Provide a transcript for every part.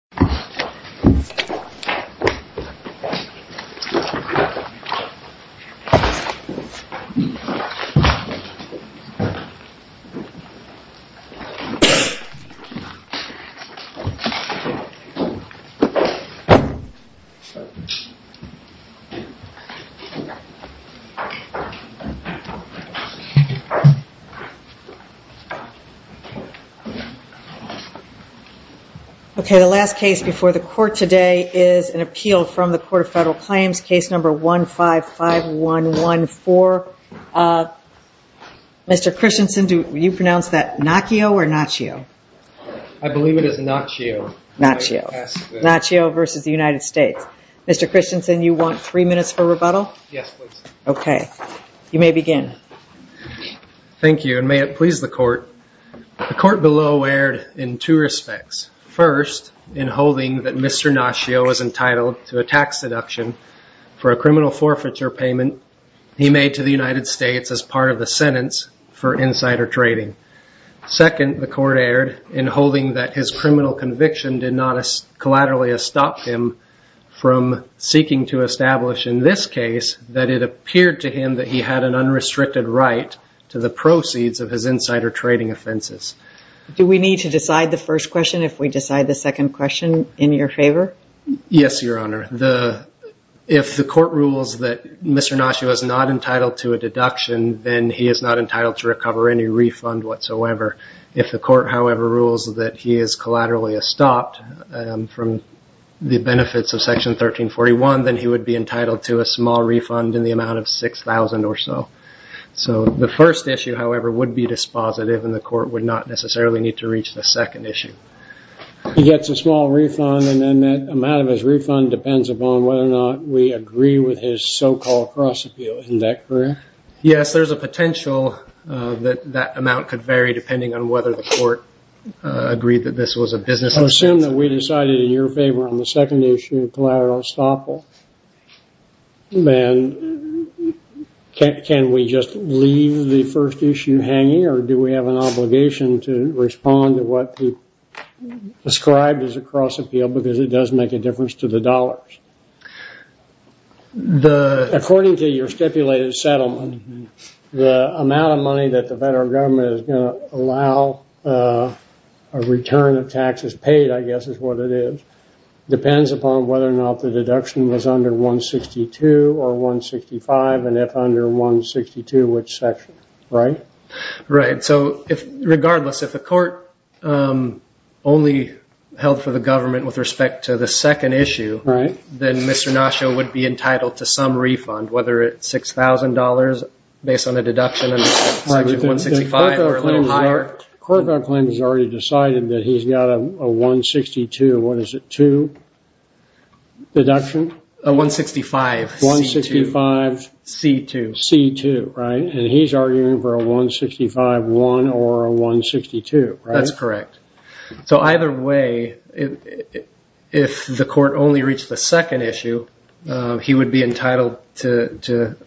President of the United States, John F. Kennedy. today is an appeal from the Court of Federal Claims, case number 155114. Mr. Christensen, will you pronounce that Nacchio or Nacchio? I believe it is Nacchio. Nacchio v. United States. Mr. Christensen, you want three minutes for rebuttal? Yes, please. Okay. You may begin. Thank you, and may it please the court. The court below erred in two respects. First, in holding that Mr. Nacchio was entitled to a tax deduction for a criminal forfeiture payment he made to the United States as part of the sentence for insider trading. Second, the court erred in holding that his criminal conviction did not collaterally stop him from seeking to establish in this case that it appeared to him that he had an unrestricted right to the proceeds of his insider trading offenses. Do we need to decide the first question if we decide the second question in your favor? Yes, Your Honor. If the court rules that Mr. Nacchio is not entitled to a deduction, then he is not entitled to recover any refund whatsoever. If the court, however, rules that he is collaterally stopped from the benefits of Section 1341, then he would be entitled to a small refund in the amount of $6,000 or so. The first issue, however, would be dispositive, and the court would not necessarily need to reach the second issue. He gets a small refund, and then that amount of his refund depends upon whether or not we agree with his so-called cross-appeal. Isn't that correct? Yes, there is a potential that that amount could vary depending on whether the court agreed that this was a business assistance. Assume that we decided in your favor on the second issue of collateral estoppel, then can we just leave the first issue hanging, or do we have an obligation to respond to what he described as a cross-appeal because it does make a difference to the dollars? According to your stipulated settlement, the amount of money that the federal government is going to allow a return of taxes paid, I guess is what it is, depends upon whether or not the deduction was under 162 or 165, and if under 162, which section, right? Right. So, regardless, if the court only held for the government with respect to the second issue, then Mr. Nacchio would be entitled to some refund, whether it's $6,000 based on a deduction under section 165 or a little higher. The court has already decided that he's got a 162, what is it, 2 deduction? A 165C2. 165C2, right? And he's arguing for a 165-1 or a 162, right? That's correct. So, either way, if the court only reached the second issue, he would be entitled to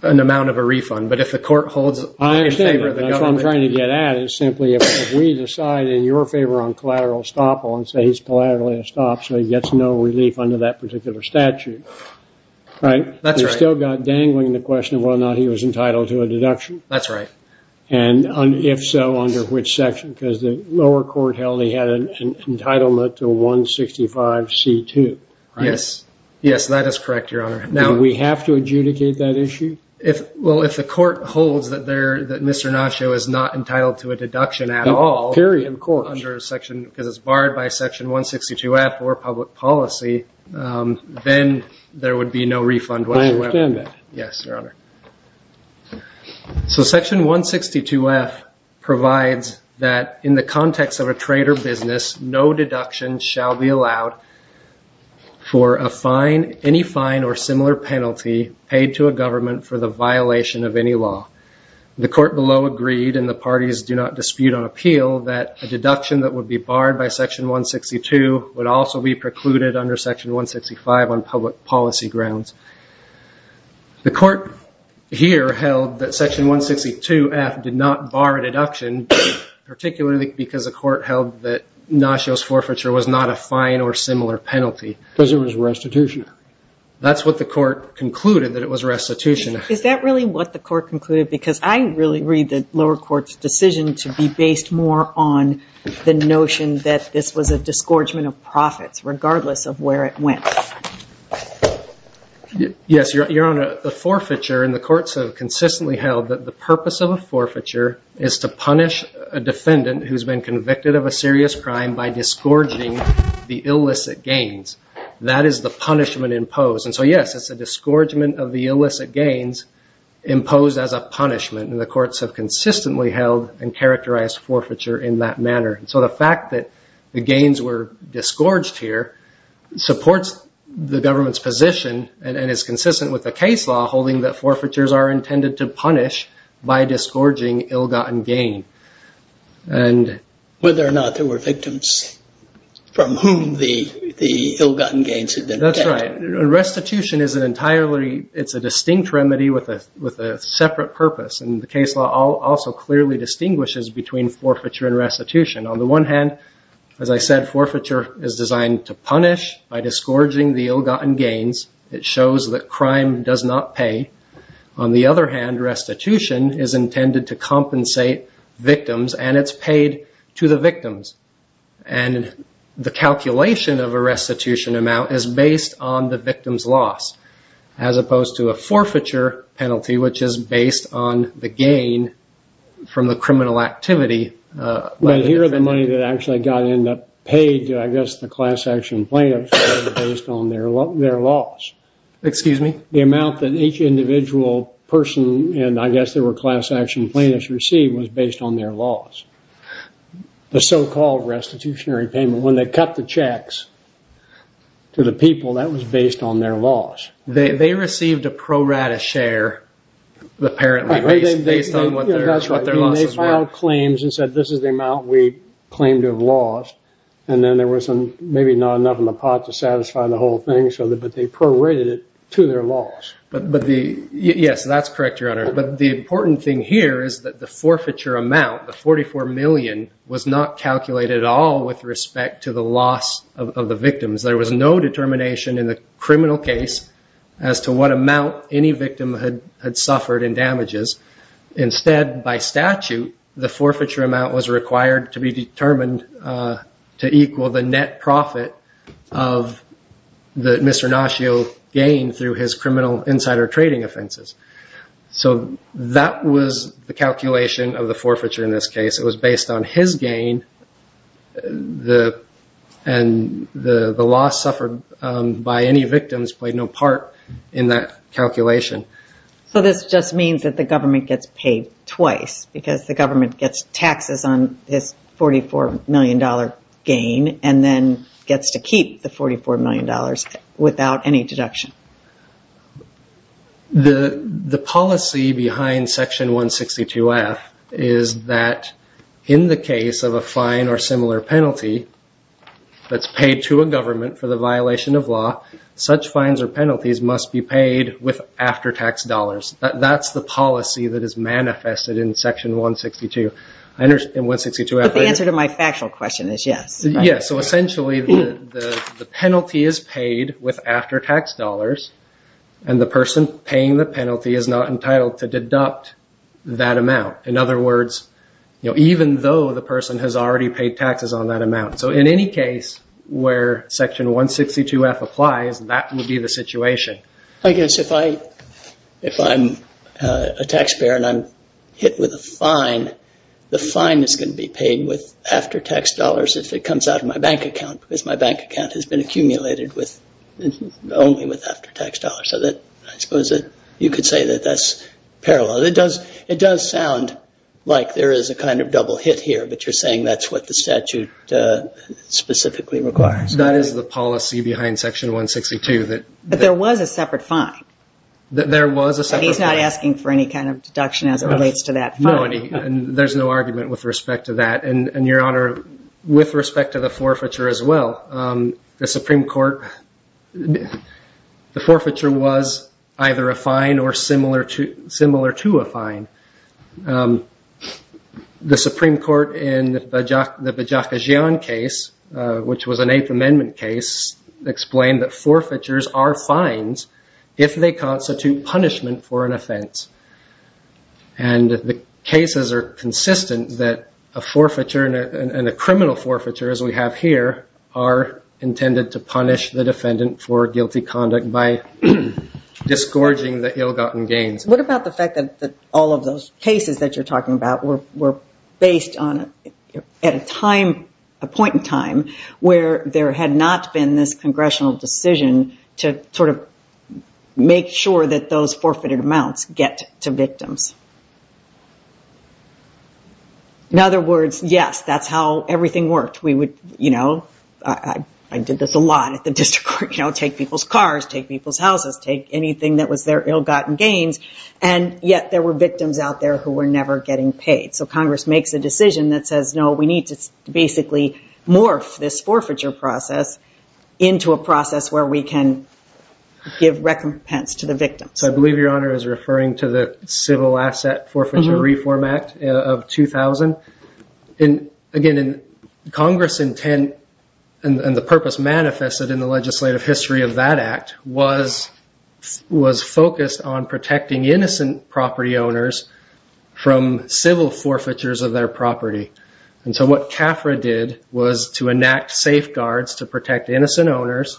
an amount of a refund, but if the court holds in favor of the government... I understand that. That's what I'm trying to get at, is simply if we decide in your favor on collateral estoppel and say he's collaterally estopped, so he gets no relief under that particular statute, right? That's right. You've still got dangling the question of whether or not he was entitled to a deduction. That's the lower court held he had an entitlement to a 165C2, right? Yes. Yes, that is correct, Your Honor. Now... Do we have to adjudicate that issue? Well, if the court holds that Mr. Nacchio is not entitled to a deduction at all... Period, of course. ...under section, because it's barred by section 162F or public policy, then there would be no refund whatsoever. I understand that. Yes, Your Honor. So section 162F provides that in the context of a trade or business, no deduction shall be allowed for a fine, any fine or similar penalty paid to a government for the violation of any law. The court below agreed, and the parties do not dispute on appeal, that a deduction that would be barred by section 162 would also be precluded under section 165 on public policy grounds. The court here held that section 162F did not bar a deduction, particularly because the court held that Nacchio's forfeiture was not a fine or similar penalty. Because it was restitution. That's what the court concluded, that it was restitution. Is that really what the court concluded? Because I really read the lower court's decision to be based more on the notion that this was a Yes, Your Honor. The forfeiture, and the courts have consistently held that the purpose of a forfeiture is to punish a defendant who's been convicted of a serious crime by disgorging the illicit gains. That is the punishment imposed. And so yes, it's a disgorgement of the illicit gains imposed as a punishment. And the courts have consistently held and characterized forfeiture in that manner. And so the fact that the gains were disgorged here supports the government's position and is consistent with the case law holding that forfeitures are intended to punish by disgorging ill-gotten gain. Whether or not there were victims from whom the ill-gotten gains had been taken. That's right. Restitution is a distinct remedy with a separate purpose. And the case law also clearly distinguishes between forfeiture and restitution. On the one hand, as I said, forfeiture is designed to punish by disgorging the ill-gotten gains. It shows that crime does not pay. On the other hand, restitution is intended to compensate victims. And it's paid to the victims. And the calculation of a restitution amount is based on the victim's loss. As opposed to a forfeiture penalty, which is based on the gain from the criminal activity. Well, here are the money that actually got paid to, I guess, the class action plaintiffs based on their loss. Excuse me? The amount that each individual person, and I guess there were class action plaintiffs received, was based on their loss. The so-called restitutionary payment, when they cut the checks to the people, that was based on their loss. They received a pro-rata share, apparently, based on what their losses were. They filed claims and said, this is the amount we claim to have lost. And then there was maybe not enough in the pot to satisfy the whole thing, but they prorated it to their loss. Yes, that's correct, Your Honor. But the important thing here is that the forfeiture amount, the $44 million, was not calculated at all with respect to the loss of the victims. There was no determination in the criminal case as to what amount any victim had suffered in damages. Instead, by statute, the forfeiture amount was required to be determined to equal the net profit of Mr. Nascio's gain through his criminal insider trading offenses. So that was the calculation of the forfeiture in this case. It was based on his gain, and the loss suffered by any victims played no part in that calculation. So this just means that the government gets paid twice, because the government gets taxes on this $44 million gain, and then gets to keep the $44 million without any deduction. The policy behind Section 162F is that in the case of a fine or similar penalty that's paid to a government for the violation of law, such fines or penalties must be paid with after-tax dollars. That's the policy that is manifested in Section 162. But the answer to my factual question is yes. Yes, so essentially the penalty is paid with after-tax dollars, and the person paying the penalty is not entitled to deduct that amount. In other words, even though the person has already paid taxes on that amount. So in any case where Section 162F applies, that would be the situation. I guess if I'm a taxpayer and I'm hit with a fine, the fine is going to be paid with after-tax dollars if it comes out of my bank account, because my bank account has been accumulated only with after-tax dollars. So I suppose you could say that that's parallel. It does sound like there is a kind of double hit here, but you're saying that's what the statute specifically requires. That is the policy behind Section 162. But there was a separate fine. There was a separate fine. He's not asking for any kind of deduction as it relates to that fine. No, and there's no argument with respect to that. And, Your Honor, with respect to the forfeiture as well, the Supreme Court, the forfeiture was either a fine or similar to a fine. The Supreme Court in the Bajakajian case, which was an Eighth Amendment case, explained that forfeitures are fines if they constitute punishment for an offense. And the cases are consistent that a forfeiture and a criminal forfeiture, as we have here, are intended to punish the defendant for guilty conduct by disgorging the ill-gotten gains. What about the fact that all of those cases that you're talking about were based at a point in time where there had not been this congressional decision to sort of make sure that those forfeited amounts get to victims? In other words, yes, that's how everything worked. I did this a lot at the district court. Take people's cars, take people's houses, take anything that was their ill-gotten gains, and yet there were victims out there who were never getting paid. So Congress makes a decision that says, no, we need to basically morph this forfeiture process into a process where we can give recompense to the victims. So I believe Your Honor is referring to the Civil Asset Forfeiture Reform Act of 2000. Again, Congress's intent and the purpose manifested in the legislative history of that act was focused on protecting innocent property owners from civil forfeitures of their property. And so what CAFRA did was to enact safeguards to protect innocent owners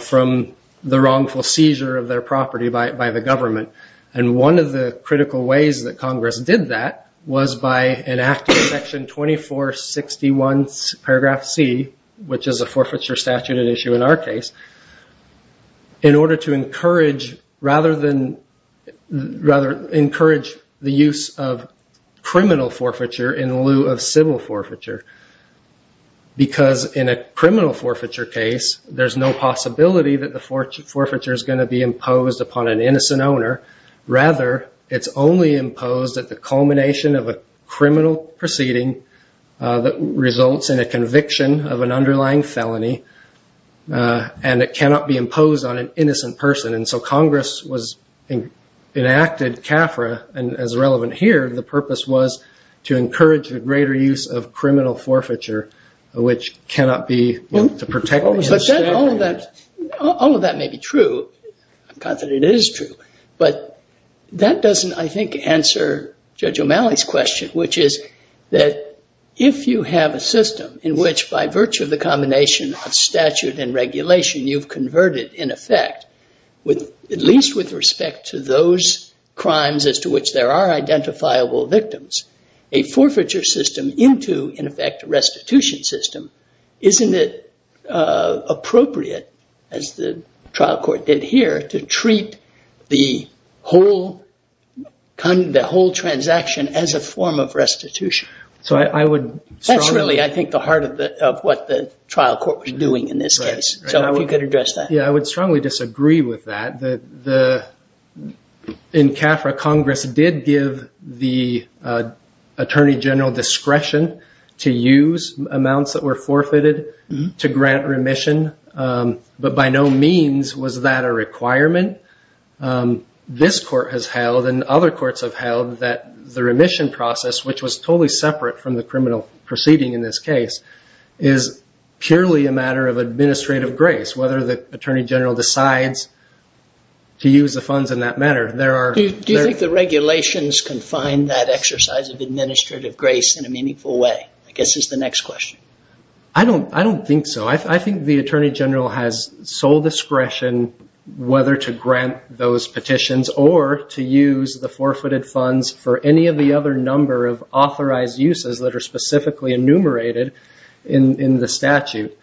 from the wrongful seizure of their property by the government. And one of the critical ways that Congress did that was by enacting section 2461 paragraph C, which is a forfeiture statute at issue in our case, in order to encourage the use of criminal forfeiture in lieu of civil forfeiture. Because in a criminal forfeiture case, there's no possibility that the forfeiture is going to be imposed upon an innocent owner. Rather, it's only imposed at the culmination of a criminal proceeding that results in a conviction of an underlying felony, and it cannot be imposed on an innocent person. And so Congress enacted CAFRA, and as relevant here, the purpose was to encourage a greater use of criminal forfeiture, which cannot be used to protect the innocent owner. All of that may be true. I'm confident it is true. But that doesn't, I think, answer Judge O'Malley's question, which is that if you have a system in which, by virtue of the combination of statute and regulation, you've converted, in effect, at least with respect to those crimes as to which there are identifiable victims, a forfeiture system into, in effect, a restitution system, isn't it appropriate, as the trial court did here, to treat the whole transaction as a form of restitution? That's really, I think, the heart of what the trial court was doing in this case. So if you could address that. Yeah, I would strongly disagree with that. In CAFRA, Congress did give the Attorney General discretion to use amounts that were forfeited to grant remission, but by no means was that a requirement. This court has held, and other courts have held, that the remission process, which was totally separate from the criminal proceeding in this case, is purely a matter of administrative grace, whether the Attorney General decides to use the funds in that manner. Do you think the regulations confine that exercise of administrative grace in a meaningful way? I guess that's the next question. I don't think so. I think the Attorney General has sole discretion whether to grant those petitions or to use the forfeited funds for any of the other number of authorized uses that are specifically enumerated in the statute.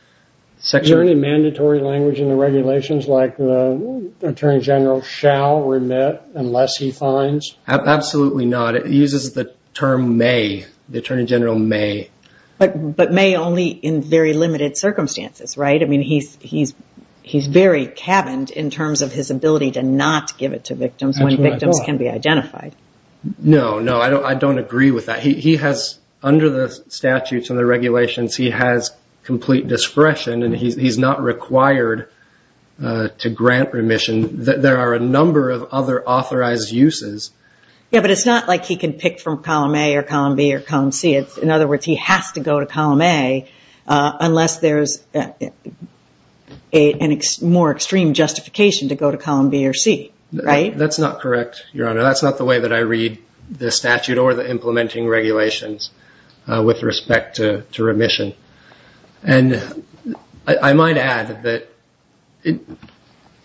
Is there any mandatory language in the regulations like the Attorney General shall remit unless he fines? Absolutely not. It uses the term may, the Attorney General may. But may only in very limited circumstances, right? I mean, he's very cabined in terms of his ability to not give it to victims when victims can be identified. No, no, I don't agree with that. He has, under the statutes and the regulations, he has complete discretion and he's not required to grant remission. There are a number of other authorized uses. Yeah, but it's not like he can pick from column A or column B or column C. In other words, he has to go to column A unless there's a more extreme justification to go to column B or C, right? That's not correct, Your Honor. That's not the way that I read the statute or the implementing regulations with respect to remission. And I might add that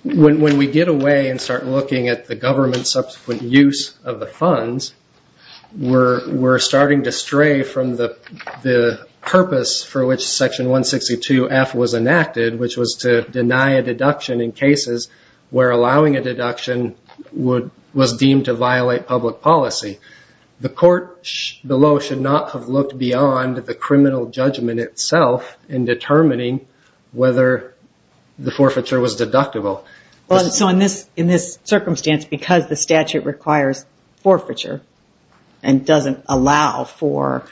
when we get away and start looking at the government's subsequent use of the funds, we're starting to stray from the purpose for which Section 162F was enacted, which was to deny a deduction in cases where allowing a deduction was deemed to violate public policy. The court below should not have looked beyond the criminal judgment itself in determining whether the forfeiture was deductible. So in this circumstance, because the statute requires forfeiture and doesn't allow for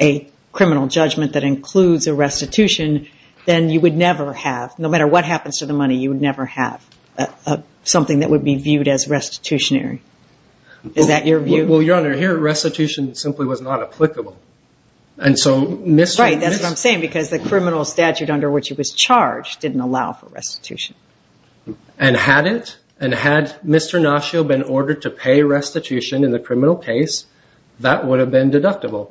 a criminal judgment that includes a restitution, then you would never have, no matter what happens to the money, you would never have something that would be viewed as restitutionary. Is that your view? Well, Your Honor, here restitution simply was not applicable. Right, that's what I'm saying, because the criminal statute under which it was charged didn't allow for restitution. And had Mr. Nascio been ordered to pay restitution in the criminal case, that would have been deductible.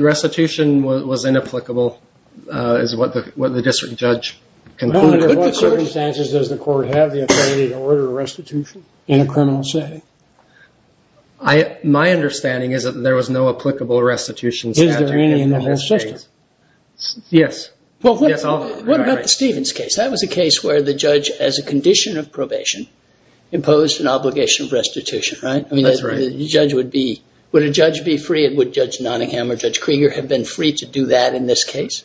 Restitution was inapplicable is what the district judge concluded. Under what circumstances does the court have the authority to order restitution in a criminal setting? My understanding is that there was no applicable restitution statute in the whole case. Is there any in the whole case? Yes. Well, what about the Stevens case? That was a case where the judge, as a condition of probation, imposed an obligation of restitution, right? That's right. Would a judge be free, and would Judge Nottingham or Judge Krieger have been free to do that in this case?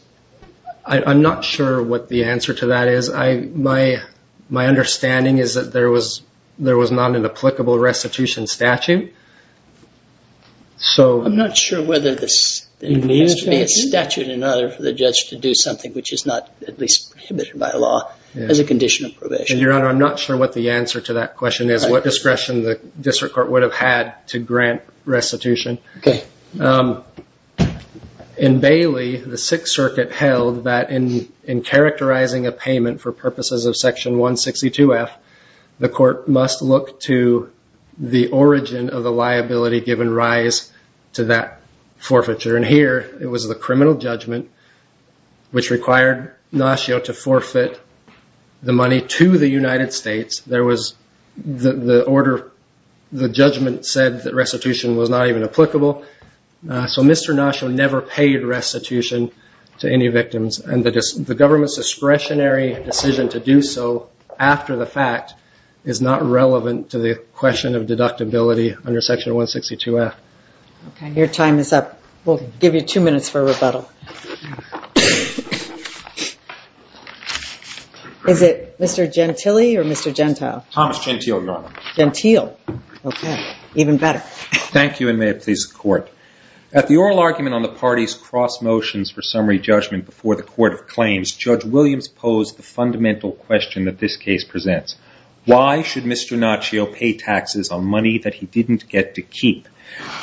I'm not sure what the answer to that is. My understanding is that there was not an applicable restitution statute. I'm not sure whether there has to be a statute in order for the judge to do something which is not at least prohibited by law as a condition of probation. Your Honor, I'm not sure what the answer to that question is, what discretion the district court would have had to grant restitution. Okay. In Bailey, the Sixth Circuit held that in characterizing a payment for purposes of Section 162F, the court must look to the origin of the liability given rise to that forfeiture. And here, it was the criminal judgment which required Nascio to forfeit the money to the United States. The judgment said that restitution was not even applicable. So Mr. Nascio never paid restitution to any victims, and the government's discretionary decision to do so after the fact is not relevant to the question of deductibility under Section 162F. Your time is up. We'll give you two minutes for rebuttal. Is it Mr. Gentile or Mr. Gentile? Thomas Gentile, Your Honor. Gentile. Okay. Even better. Thank you, and may it please the Court. At the oral argument on the party's cross motions for summary judgment before the Court of Claims, Judge Williams posed the fundamental question that this case presents. Why should Mr. Nascio pay taxes on money that he didn't get to keep?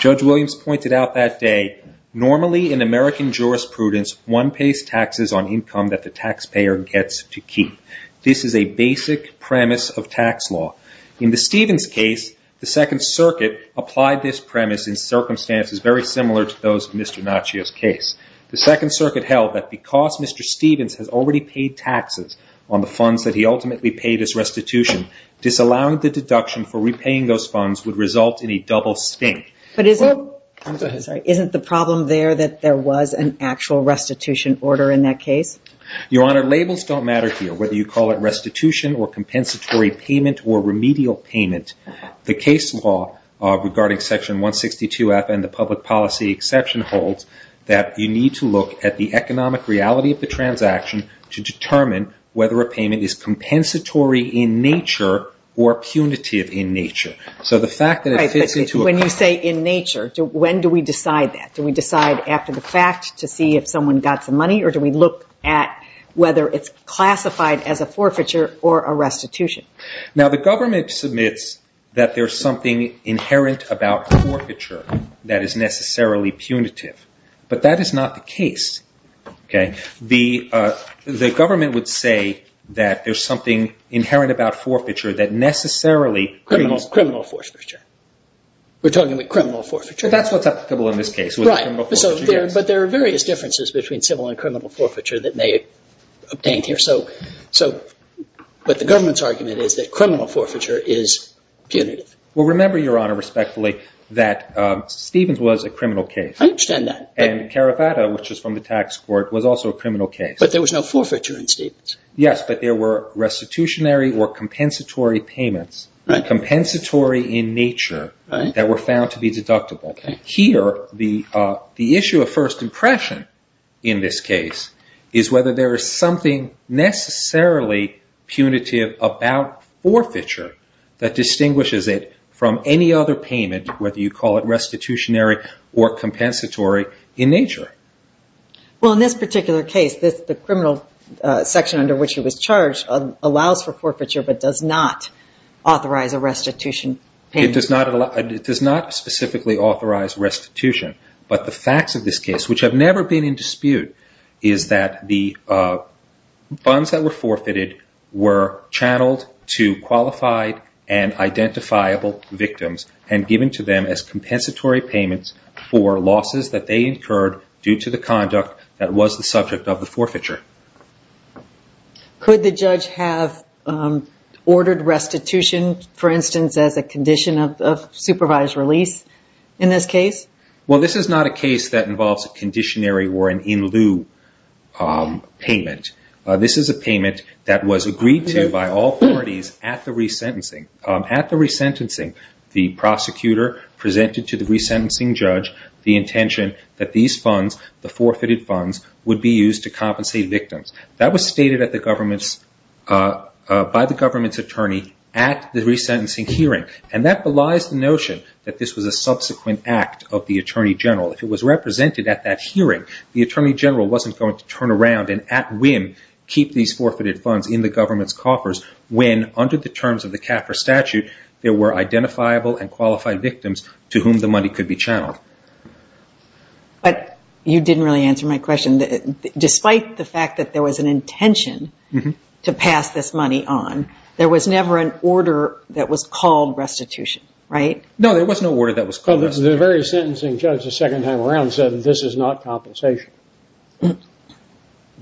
Judge Williams pointed out that day, normally in American jurisprudence, one pays taxes on income that the taxpayer gets to keep. This is a basic premise of tax law. In the Stevens case, the Second Circuit applied this premise in circumstances very similar to those in Mr. Nascio's case. The Second Circuit held that because Mr. Stevens has already paid taxes on the funds that he ultimately paid as restitution, disallowing the deduction for repaying those funds would result in a double stink. But isn't the problem there that there was an actual restitution order in that case? Your Honor, labels don't matter here, whether you call it restitution or compensatory payment or remedial payment. The case law regarding Section 162F and the public policy exception holds that you need to look at the economic reality of the transaction to determine whether a payment is compensatory in nature or punitive in nature. When you say in nature, when do we decide that? Do we decide after the fact to see if someone got some money or do we look at whether it's classified as a forfeiture or a restitution? The government submits that there's something inherent about forfeiture that is necessarily punitive, but that is not the case. Okay. The government would say that there's something inherent about forfeiture that necessarily Criminal forfeiture. We're talking about criminal forfeiture. That's what's applicable in this case. Right. But there are various differences between civil and criminal forfeiture that may be obtained here. But the government's argument is that criminal forfeiture is punitive. Well, remember, Your Honor, respectfully, that Stevens was a criminal case. I understand that. And Caravata, which is from the tax court, was also a criminal case. But there was no forfeiture in Stevens. Yes, but there were restitutionary or compensatory payments, compensatory in nature that were found to be deductible. Here, the issue of first impression in this case is whether there is something necessarily punitive about forfeiture that distinguishes it from any other payment, whether you call it restitutionary or compensatory in nature. Well, in this particular case, the criminal section under which he was charged allows for forfeiture but does not authorize a restitution payment. It does not specifically authorize restitution. But the facts of this case, which have never been in dispute, is that the funds that were forfeited were channeled to qualified and identifiable victims and given to them as compensatory payments for losses that they incurred due to the conduct that was the subject of the forfeiture. Could the judge have ordered restitution, for instance, as a condition of supervised release in this case? Well, this is not a case that involves a conditionary or an in-lieu payment. This is a payment that was agreed to by all parties at the resentencing. The prosecutor presented to the resentencing judge the intention that these funds, the forfeited funds, would be used to compensate victims. That was stated by the government's attorney at the resentencing hearing, and that belies the notion that this was a subsequent act of the attorney general. If it was represented at that hearing, the attorney general wasn't going to turn around and at whim keep these forfeited funds in the government's coffers when, under the terms of the CAFR statute, there were identifiable and qualified victims to whom the money could be channeled. But you didn't really answer my question. Despite the fact that there was an intention to pass this money on, there was never an order that was called restitution, right? No, there was no order that was called restitution. The very sentencing judge the second time around said that this is not compensation.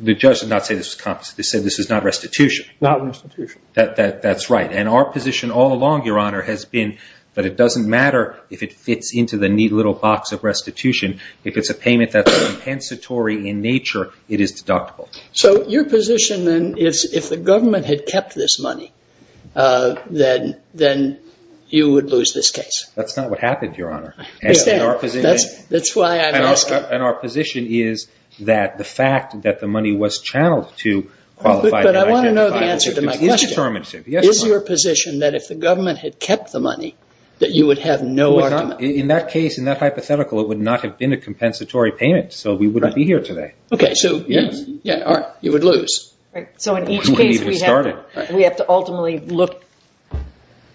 The judge did not say this was compensation. He said this is not restitution. Not restitution. That's right. And our position all along, Your Honor, has been that it doesn't matter if it fits into the neat little box of restitution. If it's a payment that's compensatory in nature, it is deductible. So your position then is if the government had kept this money, then you would lose this case. That's not what happened, Your Honor. That's why I'm asking. And our position is that the fact that the money was channeled to qualified and identifiable victims is determinative. Is your position that if the government had kept the money, that you would have no argument? In that case, in that hypothetical, it would not have been a compensatory payment, so we wouldn't be here today. Okay. Yeah. All right. You would lose. Right. So in each case, we have to ultimately look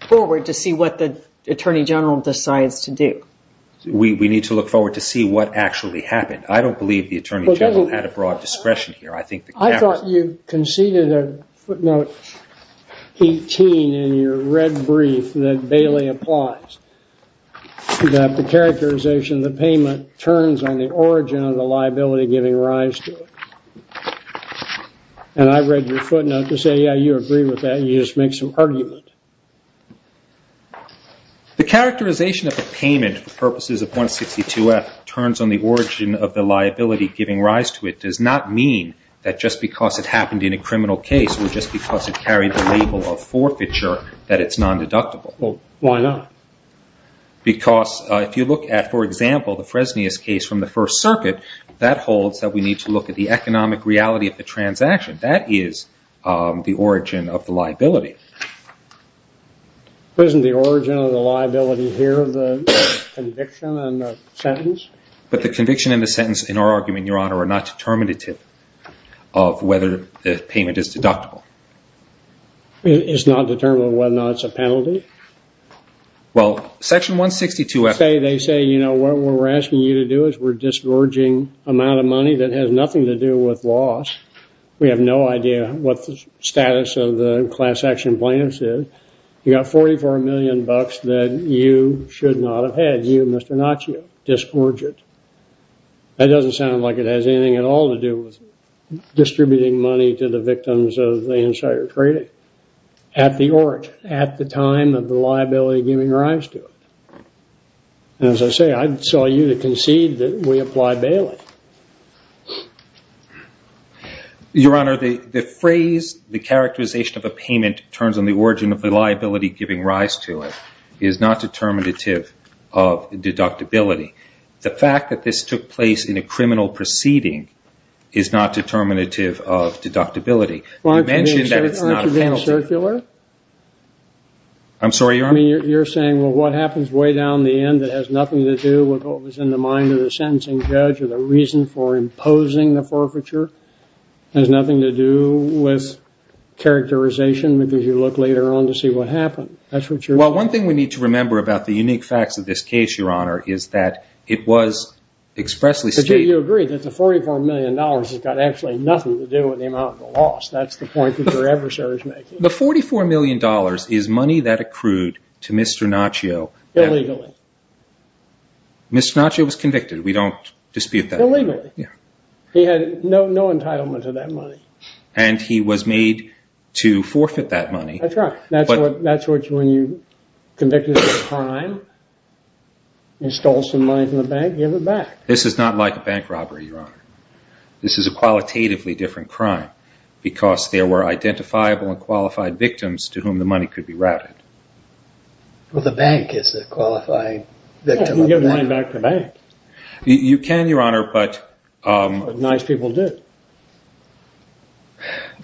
forward to see what the Attorney General decides to do. We need to look forward to see what actually happened. I don't believe the Attorney General had a broad discretion here. I thought you conceded a footnote 18 in your red brief that Bailey applies, that the characterization of the payment turns on the origin of the liability giving rise to it. And I read your footnote to say, yeah, you agree with that. You just make some argument. The characterization of the payment for purposes of 162F turns on the origin of the liability giving rise to it does not mean that just because it happened in a criminal case or just because it carried the label of forfeiture that it's non-deductible. Well, why not? Because if you look at, for example, the Fresnius case from the First Circuit, that holds that we need to look at the economic reality of the transaction. That is the origin of the liability. Isn't the origin of the liability here the conviction and the sentence? But the conviction and the sentence in our argument, Your Honor, are not determinative of whether the payment is deductible. It's not determinative of whether or not it's a penalty? Well, Section 162F... They say, you know, what we're asking you to do is we're discharging an amount of money that has nothing to do with loss. We have no idea what the status of the class action plans is. You got 44 million bucks that you should not have had. You, Mr. Naccio, disgorge it. That doesn't sound like it has anything at all to do with distributing money to the victims of the insider trading. At the origin, at the time of the liability giving rise to it. As I say, I'd sell you to concede that we apply bailing. Your Honor, the phrase, the characterization of a payment turns on the origin of the liability giving rise to it, is not determinative of deductibility. The fact that this took place in a criminal proceeding is not determinative of deductibility. You mentioned that it's not a penalty. Aren't you being circular? I'm sorry, Your Honor? I mean, you're saying, well, what happens way down the end that has nothing to do with what was in the mind of the sentencing judge or the reason for imposing the forfeiture has nothing to do with characterization because you look later on to see what happened. That's what you're saying. Well, one thing we need to remember about the unique facts of this case, Your Honor, is that it was expressly stated. But you agree that the $44 million has got actually nothing to do with the amount of the loss. That's the point that your adversary is making. The $44 million is money that accrued to Mr. Naccio. Illegally. Mr. Naccio was convicted. We don't dispute that. Illegally. Yeah. He had no entitlement to that money. And he was made to forfeit that money. That's right. That's when you're convicted of a crime, you stole some money from the bank, you have it back. This is not like a bank robbery, Your Honor. This is a qualitatively different crime because there were identifiable and qualified victims to whom the money could be routed. Well, the bank is a qualified victim of the bank. You can get money back from the bank. You can, Your Honor, but... But nice people did.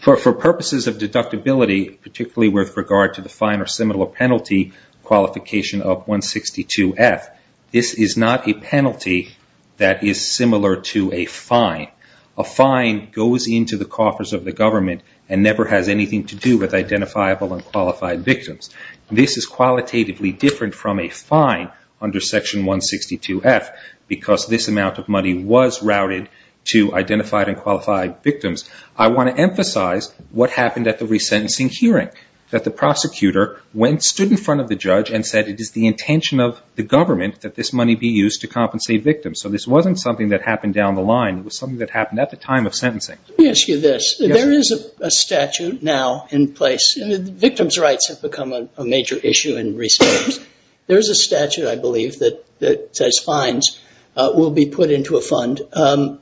For purposes of deductibility, particularly with regard to the fine or similar penalty qualification of 162F, this is not a penalty that is similar to a fine. A fine goes into the coffers of the government and never has anything to do with identifiable and qualified victims. This is qualitatively different from a fine under Section 162F because this amount of money was routed to identified and qualified victims. I want to emphasize what happened at the resentencing hearing. The prosecutor stood in front of the judge and said it is the intention of the government that this money be used to compensate victims. So this wasn't something that happened down the line. It was something that happened at the time of sentencing. Let me ask you this. There is a statute now in place. Victim's rights have become a major issue in recent years. There is a statute, I believe, that says fines will be put into a fund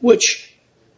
which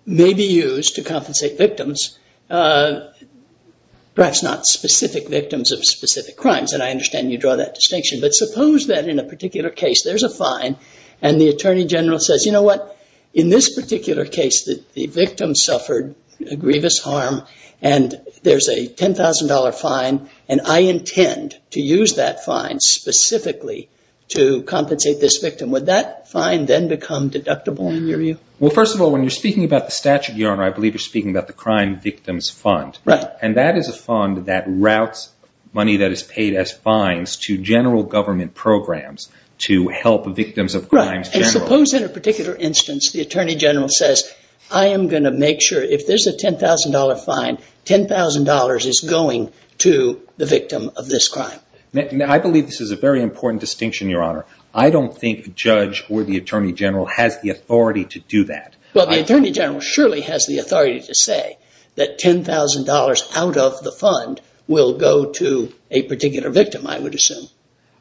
may be used to compensate victims, perhaps not specific victims of specific crimes. And I understand you draw that distinction. But suppose that in a particular case there's a fine and the attorney general says, you know what, in this particular case the victim suffered a grievous harm and there's a $10,000 fine and I intend to use that fine specifically to compensate this victim. Would that fine then become deductible in your view? Well, first of all, when you're speaking about the statute, Your Honor, I believe you're speaking about the Crime Victims Fund. Right. And that is a fund that routes money that is paid as fines to general government programs to help victims of crimes. Right. And suppose in a particular instance the attorney general says, I am going to make sure if there's a $10,000 fine, $10,000 is going to the victim of this crime. I believe this is a very important distinction, Your Honor. I don't think a judge or the attorney general has the authority to do that. Well, the attorney general surely has the authority to say that $10,000 out of the fund will go to a particular victim, I would assume.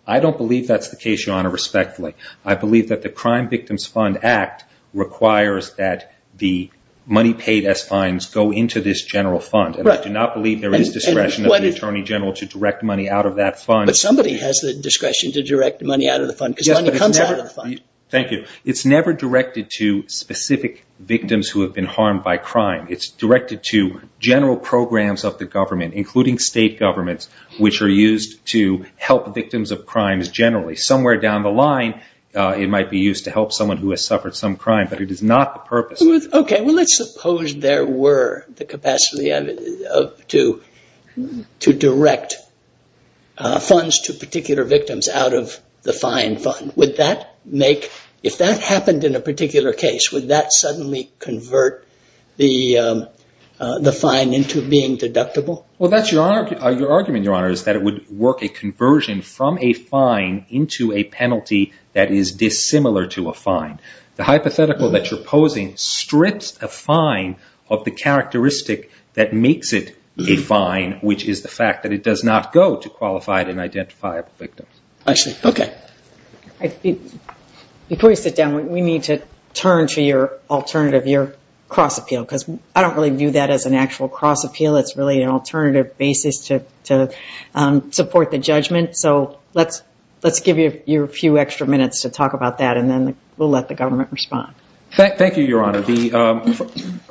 I don't believe that's the case, Your Honor, respectfully. I believe that the Crime Victims Fund Act requires that the money paid as fines go into this general fund. Right. And I do not believe there is discretion of the attorney general to direct money out of that fund. But somebody has the discretion to direct money out of the fund because money comes out of the fund. Thank you. It's never directed to specific victims who have been harmed by crime. It's directed to general programs of the government, including state governments, which are used to help victims of crimes generally. Somewhere down the line, it might be used to help someone who has suffered some crime, but it is not the purpose. Okay. Well, let's suppose there were the capacity to direct funds to particular victims out of the fine fund. If that happened in a particular case, would that suddenly convert the fine into being deductible? Well, that's your argument, Your Honor, is that it would work a conversion from a fine into a penalty that is dissimilar to a fine. The hypothetical that you're posing strips a fine of the characteristic that makes it a fine, which is the fact that it does not go to qualified and identifiable victims. I see. Okay. Before you sit down, we need to turn to your alternative, your cross-appeal, because I don't really view that as an actual cross-appeal. It's really an alternative basis to support the judgment. So let's give you a few extra minutes to talk about that, and then we'll let the government respond. Thank you, Your Honor.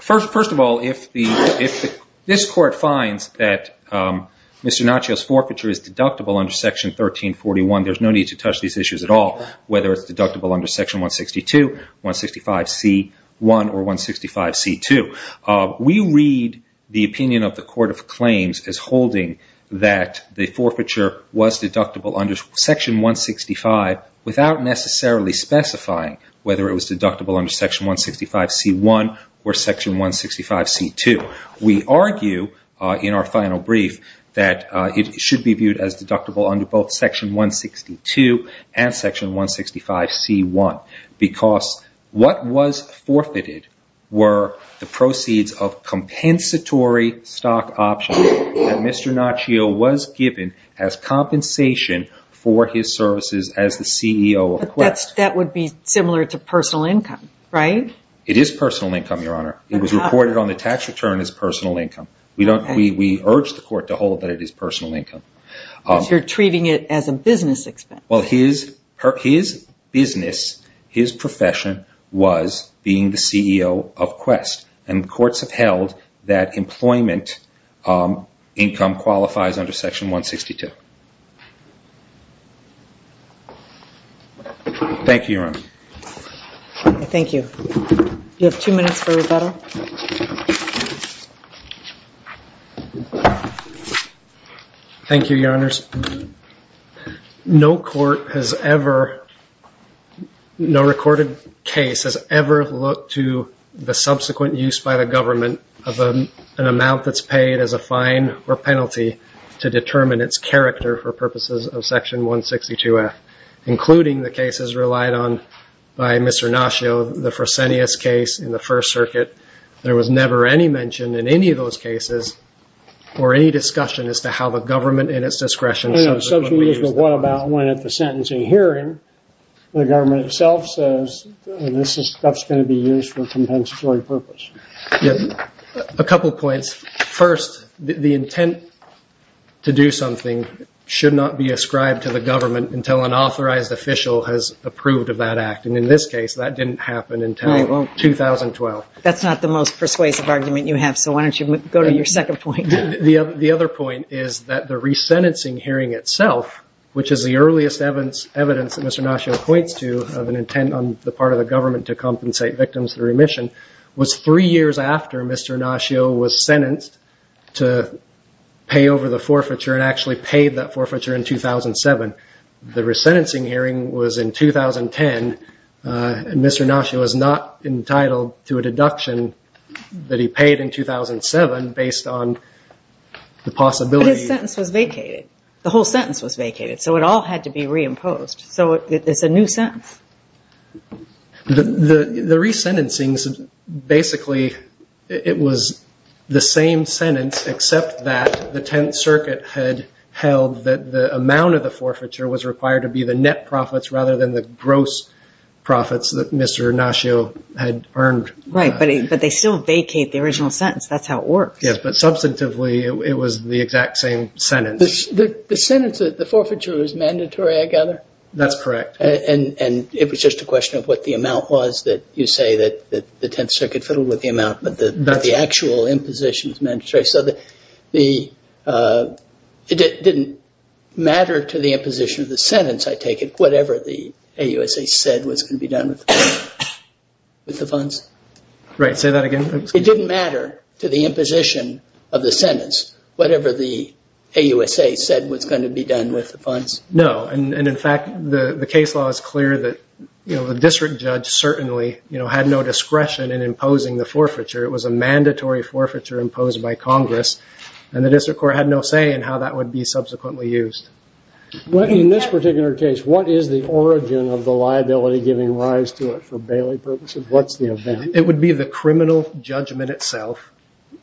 First of all, if this Court finds that Mr. Naccio's forfeiture is deductible under Section 1341, there's no need to touch these issues at all, whether it's deductible under Section 162, 165C1, or 165C2. We read the opinion of the Court of Claims as holding that the forfeiture was deductible under Section 165 without necessarily specifying whether it was deductible under Section 165C1 or Section 165C2. We argue in our final brief that it should be viewed as deductible under both Section 162 and Section 165C1 because what was forfeited were the proceeds of compensatory stock options that Mr. Naccio was given as compensation for his services as the CEO of Quest. That would be similar to personal income, right? It is personal income, Your Honor. It was reported on the tax return as personal income. We urge the Court to hold that it is personal income. You're treating it as a business expense. Well, his business, his profession, was being the CEO of Quest. And courts have held that employment income qualifies under Section 162. Thank you, Your Honor. Thank you. You have two minutes for rebuttal. Thank you, Your Honors. No court has ever, no recorded case has ever looked to the subsequent use by the government of an amount that's paid as a fine or penalty to determine its character for purposes of Section 162F, including the cases relied on by Mr. Naccio, the Fresenius case in the First Circuit. There was never any mention in any of those cases or any discussion as to how the government, in its discretion, No, subsequent use was brought about when, at the sentencing hearing, the government itself says this stuff's going to be used for a compensatory purpose. A couple points. First, the intent to do something should not be ascribed to the government until an authorized official has approved of that act. And in this case, that didn't happen until 2012. That's not the most persuasive argument you have, so why don't you go to your second point. The other point is that the resentencing hearing itself, which is the earliest evidence that Mr. Naccio points to of an intent on the part of the government to compensate victims through remission, was three years after Mr. Naccio was sentenced to pay over the forfeiture and actually paid that forfeiture in 2007. The resentencing hearing was in 2010, and Mr. Naccio was not entitled to a deduction that he paid in 2007 based on the possibility But his sentence was vacated. The whole sentence was vacated, so it all had to be reimposed. So it's a new sentence. The resentencing, basically, it was the same sentence except that the Tenth Circuit had held that the amount of the forfeiture was required to be the net profits rather than the gross profits that Mr. Naccio had earned. Right, but they still vacate the original sentence. That's how it works. Yes, but substantively, it was the exact same sentence. The sentence, the forfeiture was mandatory, I gather? That's correct. And it was just a question of what the amount was that you say that the Tenth Circuit fiddled with the amount, but the actual imposition was mandatory. So it didn't matter to the imposition of the sentence, I take it, whatever the AUSA said was going to be done with the funds? Right, say that again. It didn't matter to the imposition of the sentence whatever the AUSA said was going to be done with the funds? No, and in fact, the case law is clear that the district judge certainly had no discretion in imposing the forfeiture. It was a mandatory forfeiture imposed by Congress, and the district court had no say in how that would be subsequently used. In this particular case, what is the origin of the liability giving rise to it for Bailey purposes? What's the event? It would be the criminal judgment itself,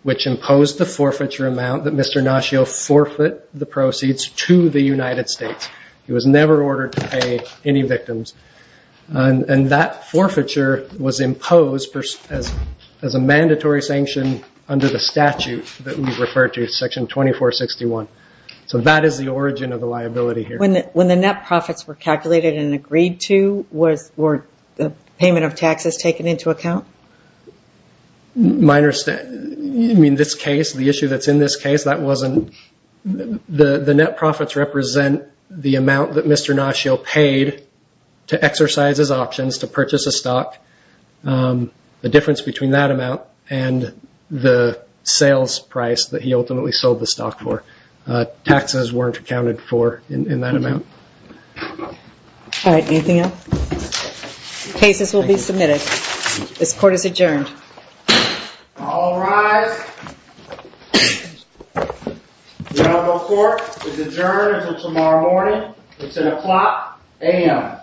which imposed the forfeiture amount that Mr. Naccio forfeit the proceeds to the United States. He was never ordered to pay any victims. And that forfeiture was imposed as a mandatory sanction under the statute that we've referred to, Section 2461. So that is the origin of the liability here. When the net profits were calculated and agreed to, were the payment of taxes taken into account? My understanding, I mean, this case, the issue that's in this case, that wasn't. The net profits represent the amount that Mr. Naccio paid to exercise his options, to purchase a stock, the difference between that amount and the sales price that he ultimately sold the stock for. Taxes weren't accounted for in that amount. All right, anything else? Cases will be submitted. This court is adjourned. All rise. The honorable court is adjourned until tomorrow morning. It's an o'clock a.m.